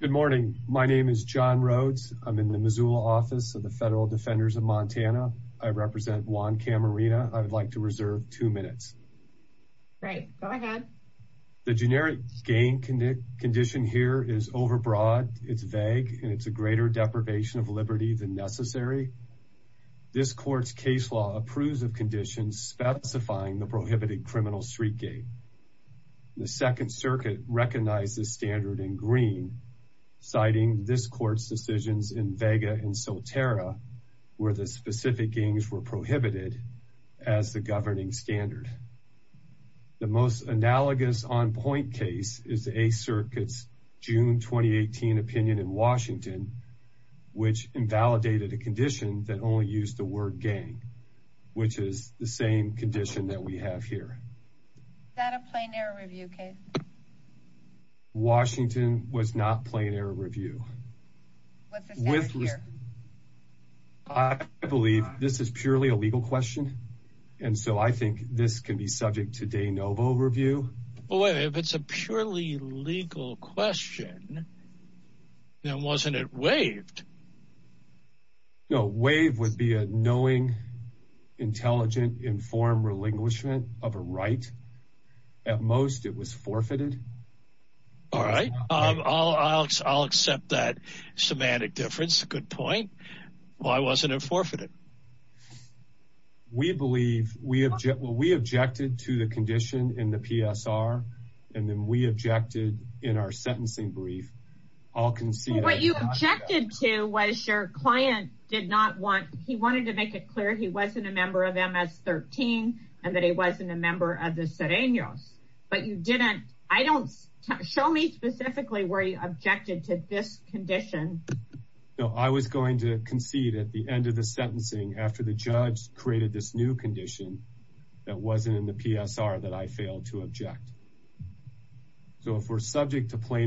Good morning, my name is John Rhodes. I'm in the Missoula office of the Federal Defenders of Montana. I represent Juan Camarena. I would like to reserve two minutes. The generic gain condition here is overbroad, it's vague, and it's a greater deprivation of liberty than necessary. This court's case law approves of conditions specifying the prohibited criminal street gain. The Second Circuit recognizes standard in green, citing this court's decisions in Vega and Soterra, where the specific gains were prohibited as the governing standard. The most analogous on-point case is the Eighth Circuit's June 2018 opinion in Washington, which invalidated a condition that only used the word gain, which is the same condition that we have here. Washington was not plain error review. I believe this is purely a legal question, and so I think this can be subject to de novo review. If it's a purely legal question, then wasn't it no, WAVE would be a knowing, intelligent, informed relinquishment of a right. At most, it was forfeited. All right, I'll accept that semantic difference. Good point. Why wasn't it forfeited? We believe, we objected to the condition in the PSR, and then we objected in our sentencing brief. What you objected to was your client did not want, he wanted to make it clear he wasn't a member of MS-13, and that he wasn't a member of the Sereños, but you didn't, I don't, show me specifically where you objected to this condition. No, I was going to concede at the end of the sentencing after the judge created this new condition that wasn't in the PSR that I failed to object. So if we're started by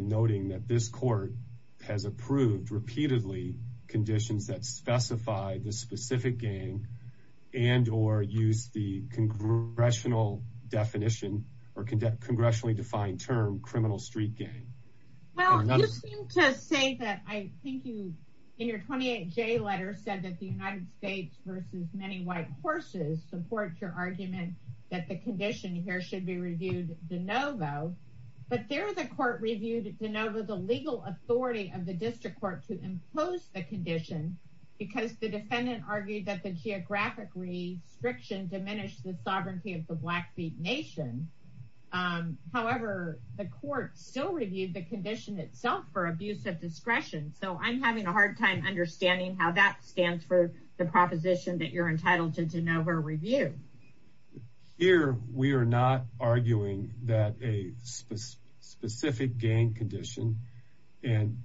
noting that this court has approved, repeatedly, conditions that specify the specific gang, and or use the congressional definition, or congressionally defined term, criminal street gang. Well, you seem to say that I think you, in your 28J letter, said that the United States versus many white horses supports your argument that the condition here should be reviewed de novo, but there the court reviewed de novo the legal authority of the district court to impose the condition, because the defendant argued that the geographic restriction diminished the sovereignty of the Blackfeet Nation. However, the court still reviewed the condition itself for abuse of discretion, so I'm having a hard time understanding how that stands for the proposition that you're entitled to de novo review. Here, we are not arguing that a specific gang condition, and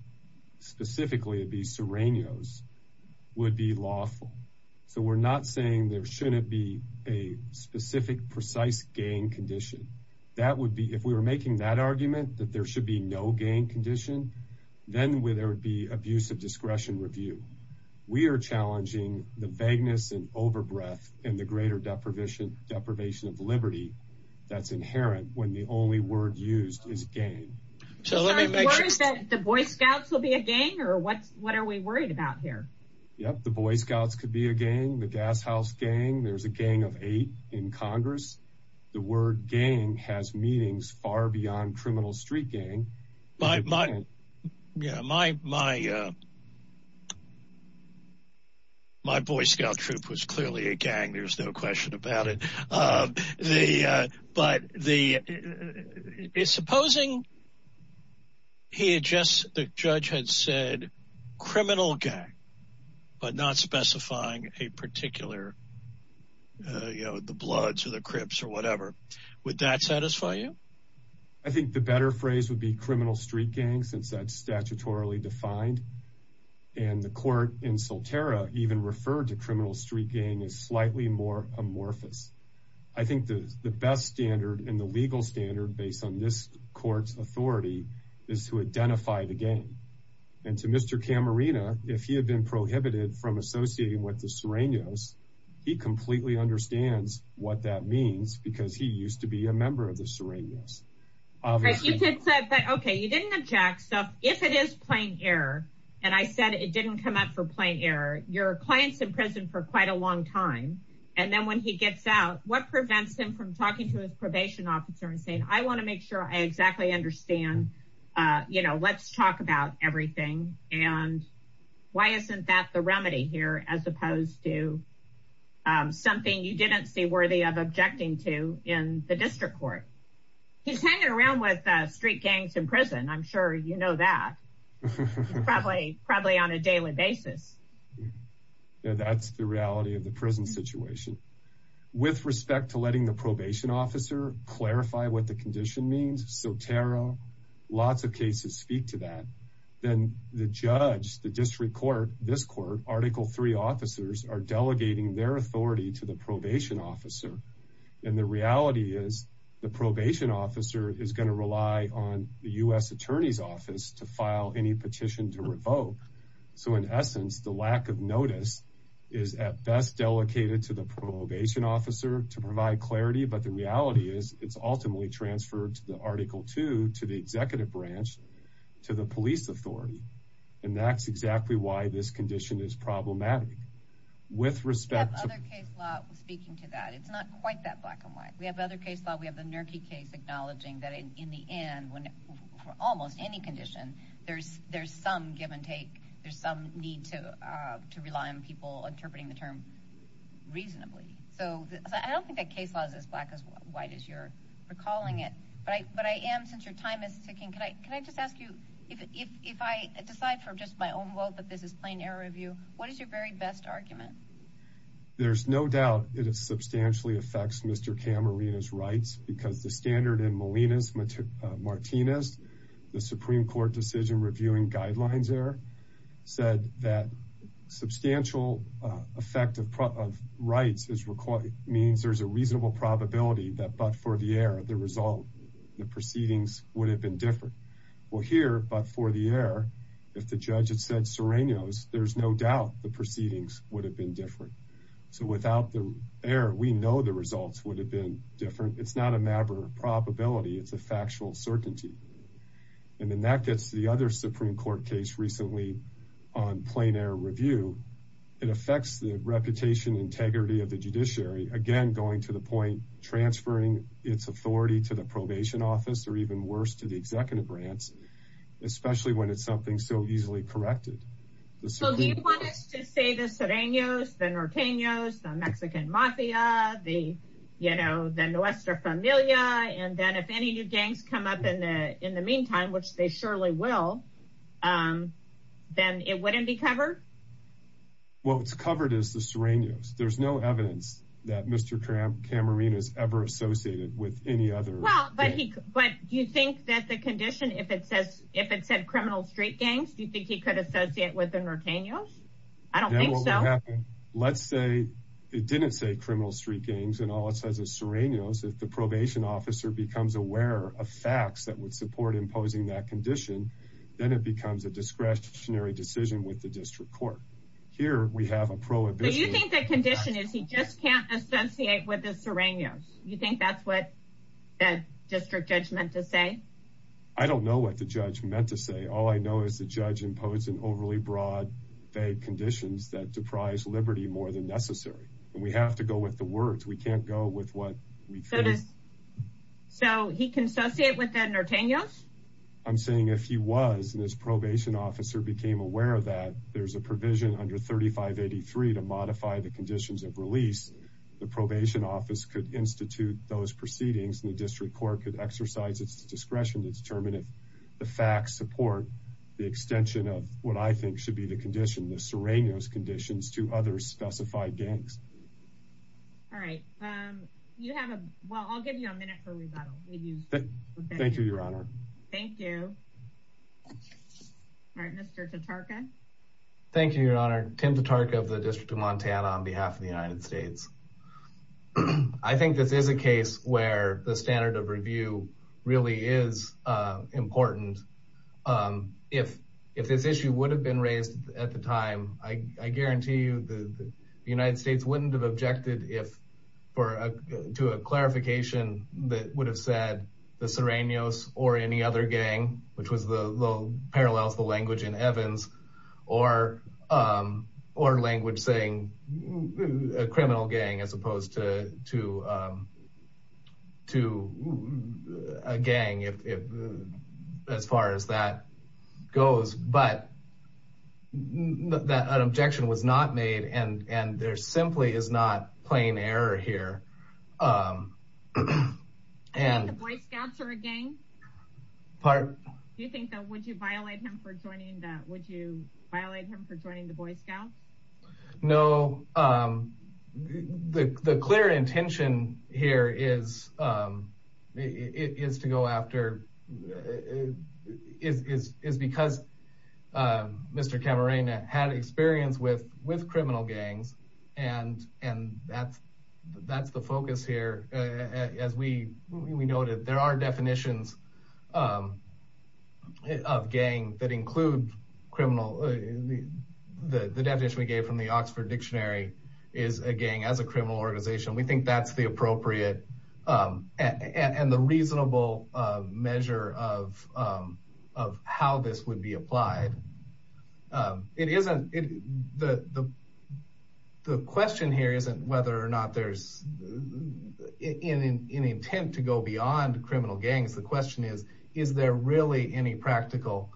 specifically it'd be Serrano's, would be lawful. So we're not saying there shouldn't be a specific precise gang condition. That would be, if we were making that argument, that there should be no gang condition, then there would be abuse of discretion review. We are challenging the vagueness and overbreath and the greater deprivation of liberty that's inherent when the only word used is gang. So are you worried that the Boy Scouts will be a gang, or what are we worried about here? Yep, the Boy Scouts could be a gang, the Gas House gang, there's a gang of eight in Congress. The word gang has meanings far beyond criminal street gang. My Boy Scout troop was clearly a gang, there's no question about it. Supposing the judge had said criminal gang, but not specifying a particular, you know, the Bloods or the Crips or whatever, would that satisfy you? I think the better phrase would be criminal street gang, since that's statutorily defined, and the court in Solterra even referred to criminal street gang as slightly more amorphous. I think the best standard and the legal standard based on this court's authority is to identify the gang. And to Mr. Camarena, if he had been prohibited from associating with the Serrano's, he used to be a member of the Serrano's. Okay, you didn't object, so if it is plain error, and I said it didn't come up for plain error, your client's in prison for quite a long time, and then when he gets out, what prevents him from talking to his probation officer and saying, I want to make sure I exactly understand, you know, let's talk about everything, and why isn't that the remedy here, as opposed to something you didn't see worthy of objecting to in the district court? He's hanging around with street gangs in prison, I'm sure you know that, probably on a daily basis. That's the reality of the prison situation. With respect to letting the probation officer clarify what the condition means, Solterra, lots of cases speak to that, then the judge, the district court, this court, Article 3 officers are delegating their authority to the probation officer, and the reality is, the probation officer is going to rely on the U.S. Attorney's Office to file any petition to revoke, so in essence, the lack of notice is at best delegated to the probation officer to provide clarity, but the reality is, it's ultimately transferred to the Article 2, to the executive branch, to the police authority, and that's exactly why this condition is problematic. With respect to... We have other case law speaking to that, it's not quite that black and white. We have other case law, we have the Nerkey case acknowledging that in the end, for almost any condition, there's some give-and-take, there's some need to rely on people interpreting the term reasonably, so I don't think that case law is as black and white as you're recalling it, but I am, since your time is ticking, can I just ask you, if I decide for just my own vote that this is plain error of you, what is your very best argument? There's no doubt that it substantially affects Mr. Camarena's rights, because the standard in Molina's Martinez, the Supreme Court decision reviewing guidelines there, said that probability that but for the error, the result, the proceedings would have been different. Well here, but for the error, if the judge had said Serrano's, there's no doubt the proceedings would have been different. So without the error, we know the results would have been different. It's not a matter of probability, it's a factual certainty, and then that gets to the other Supreme Court case recently on plain error review. It affects the reputation, integrity of the judiciary, again going to the point transferring its authority to the probation office, or even worse, to the executive branch, especially when it's something so easily corrected. So do you want us to say the Serrano's, the Norteño's, the Mexican Mafia, the, you know, the Nuestra Familia, and then if any new gangs come up in the meantime, which they surely will, then it wouldn't be covered? What's covered is the Serrano's. There's no evidence that Mr. Camarino's ever associated with any other. Well, but do you think that the condition, if it says, if it said criminal street gangs, do you think he could associate with the Norteño's? I don't think so. Let's say it didn't say criminal street gangs and all it says is Serrano's, if the probation officer becomes aware of facts that would support imposing that condition, then it becomes a discretionary decision with the district court. Here, we have a prohibition. So you think that condition is he just can't associate with the Serrano's? You think that's what that district judge meant to say? I don't know what the judge meant to say. All I know is the judge imposed an overly broad, vague conditions that deprise liberty more than necessary, and we have to go with the words. We can't go with what we think. So he can associate with the Norteño's? I'm saying if he was, and this probation officer became aware of that, there's a provision under 3583 to modify the conditions of release. The probation office could institute those proceedings and the district court could exercise its discretion to determine if the facts support the extension of what I think should be the condition, the Serrano's conditions, to other specified gangs. All right. You have a, well, I'll give you a minute for rebuttal. Thank you, Your Honor. Thank you. All right, Mr. Tatarka. Thank you, Your Honor. Tim Tatarka of the District of Montana on behalf of the United States. I think this is a case where the standard of review really is important. If this issue would have been raised at the time, I guarantee you the United States wouldn't have objected to a gang, which parallels the language in Evans or language saying a criminal gang as opposed to a gang as far as that goes. But an objection was not made and there simply is not plain error here. I think the Boy Scouts are a gang. Part. Do you think that would you violate him for joining the, would you violate him for joining the Boy Scouts? No. The clear intention here is to go after, is because Mr. Camarena had experience with criminal gangs and that's the focus here. As we noted, there are definitions of gang that include criminal. The definition we gave from the Oxford Dictionary is a gang as a criminal organization. We think that's the appropriate and the reasonable measure of how this would be applied. The question here isn't whether or not there's any intent to go beyond criminal gangs. The question is, is there really any practical,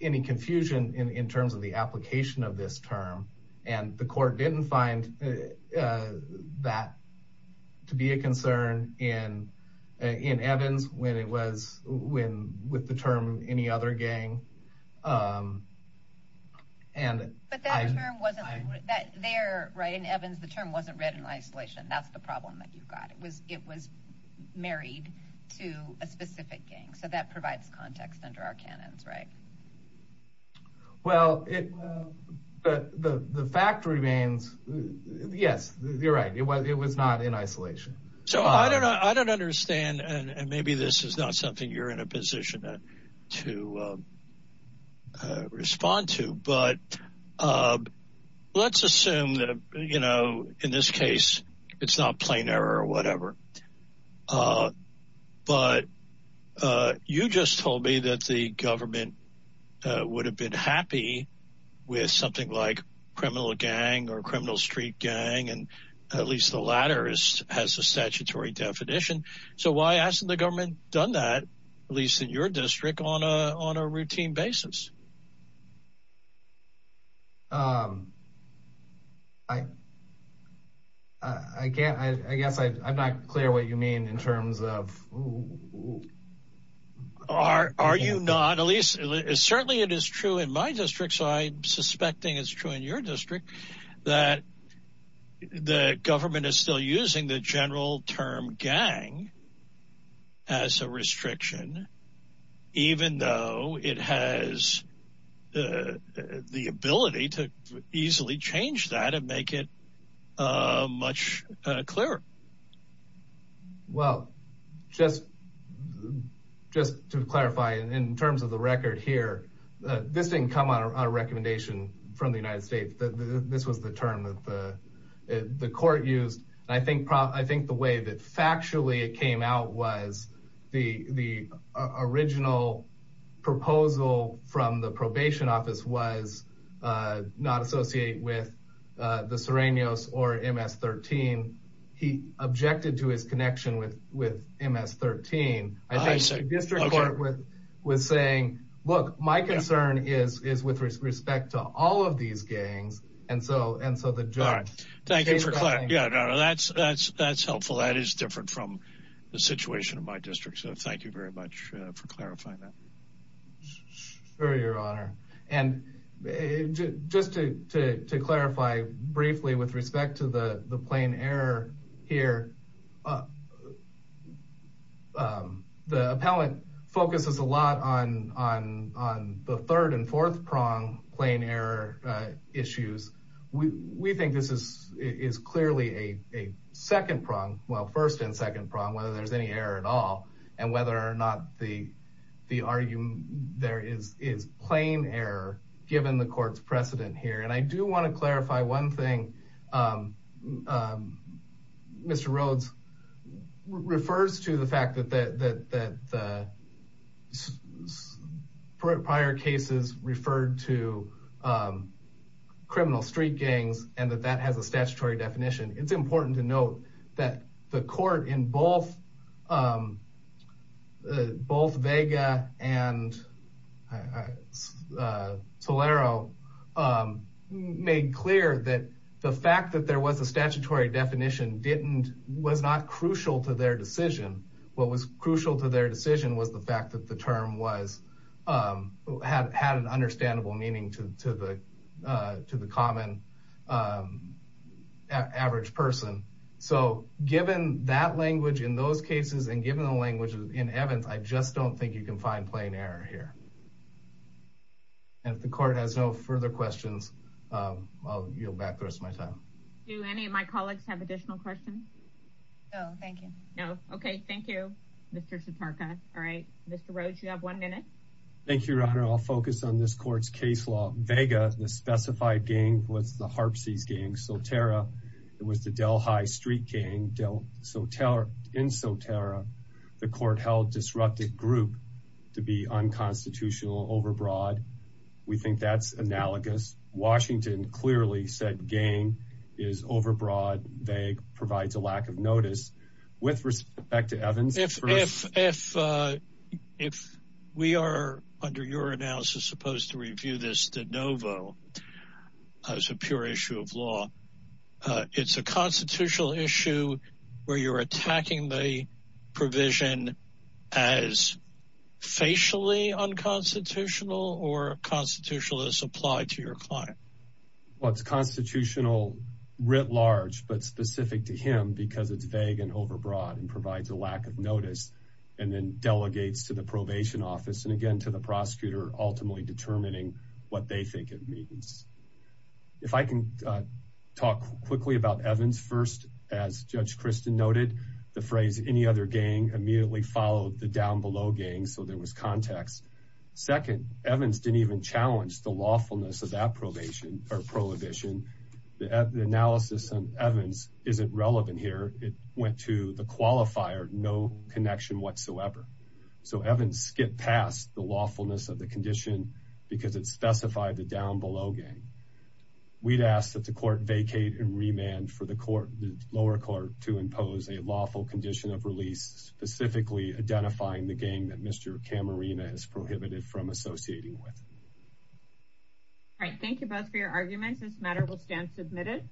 any confusion in terms of the application of this term? And the court didn't find that to be a concern in Evans when it was, when, with the term any other gang. But that term wasn't there, right? In Evans, the term wasn't read in isolation. That's the problem that you've got. It was, it was married to a specific gang. So that provides context under our canons, right? Well, it, but the fact remains, yes, you're right. It was, it was not in isolation. So I don't know, I don't understand, and maybe this is not something you're in a position to respond to, but let's assume that, you know, in this case, it's not plain error or whatever. But you just told me that the government would have been happy with something like criminal gang or criminal street gang, and at least the latter has a statutory definition. So why hasn't the government done that, at least in your district, on a, on a routine basis? I, I can't, I guess I'm not clear what you mean in terms of, are, are you not, at least, certainly it is true in my district, so I'm suspecting it's true in your district, that the government is still using the general term gang as a restriction, even though it has the ability to easily change that and make it much clearer. Well, just, just to clarify, in terms of the record here, this didn't come on a recommendation from the United States. This was the term that the, the court used. I think, I think the way that factually it came out was the, the original proposal from the probation office was not associated with the Sirenios or MS-13. He objected to his connection with, with MS-13. I think the district court was saying, look, my concern is, is with respect to all of these gangs. And so, and so the judge. Thank you for clarifying. Yeah, no, no, that's, that's, that's helpful. That is different from the situation in my district. So thank you very much for clarifying that. Sure, your honor. And just to, to, to clarify briefly with respect to the, the plain error here. The appellant focuses a lot on, on, on the third and fourth prong plain error issues. We, we think this is, is clearly a, a second prong. Well, first and second prong, whether there's any error at all. And whether or not the, the argument there is, is plain error given the court's precedent here. And I do want to clarify one thing. Mr. Rhodes refers to the fact that, that, that the prior cases referred to criminal street gangs and that that has a statutory definition. It's important to note that the court in both, both Vega and Solero made clear that the fact that there was a statutory definition didn't, was not crucial to their decision. What was crucial to their decision was the fact that the term was, had, had an understandable meaning to, to the, to the common average person. So given that language in those cases and given the language in Evans, I just don't think you can find plain error here. And if the court has no further questions, I'll yield back the rest of my time. Do any of my colleagues have additional questions? No, thank you. No. Okay. Thank you, Mr. Satarka. All right. Mr. Rhodes, you have one minute. Thank you, Your Honor. I'll focus on this court's case law. Vega, the specified gang was the Harpsies gang, Soterra. It was the Del High Street gang, Del Soterra, in Soterra. The court held disruptive group to be unconstitutional, overbroad. We think that's analogous. Washington clearly said gang is overbroad. Vega provides a lack of notice. With respect to Evans. If, if, if we are, under your analysis, supposed to review this de novo as a pure issue of law, it's a constitutional issue where you're attacking the provision as facially unconstitutional or constitutional as applied to your client? Well, it's constitutional writ large, but specific to him because it's vague and overbroad and provides a lack of notice and then delegates to the probation office. And again, to the prosecutor, ultimately determining what they think it means. If I can talk quickly about Evans. First, as Judge Kristen noted, the phrase, any other gang immediately followed the down below gang. So there was context. Second, Evans didn't even challenge the lawfulness of that probation or prohibition. The analysis on Evans isn't relevant here. It went to the qualifier. No connection whatsoever. So Evans skipped past the lawfulness of the condition because it specified the down below gang. We'd ask that the court vacate and remand for the court, the lower court to impose a lawful condition of release, specifically identifying the game that Mr. Camarena is prohibited from associating with. All right. Thank you both for your arguments. This matter will stand submitted.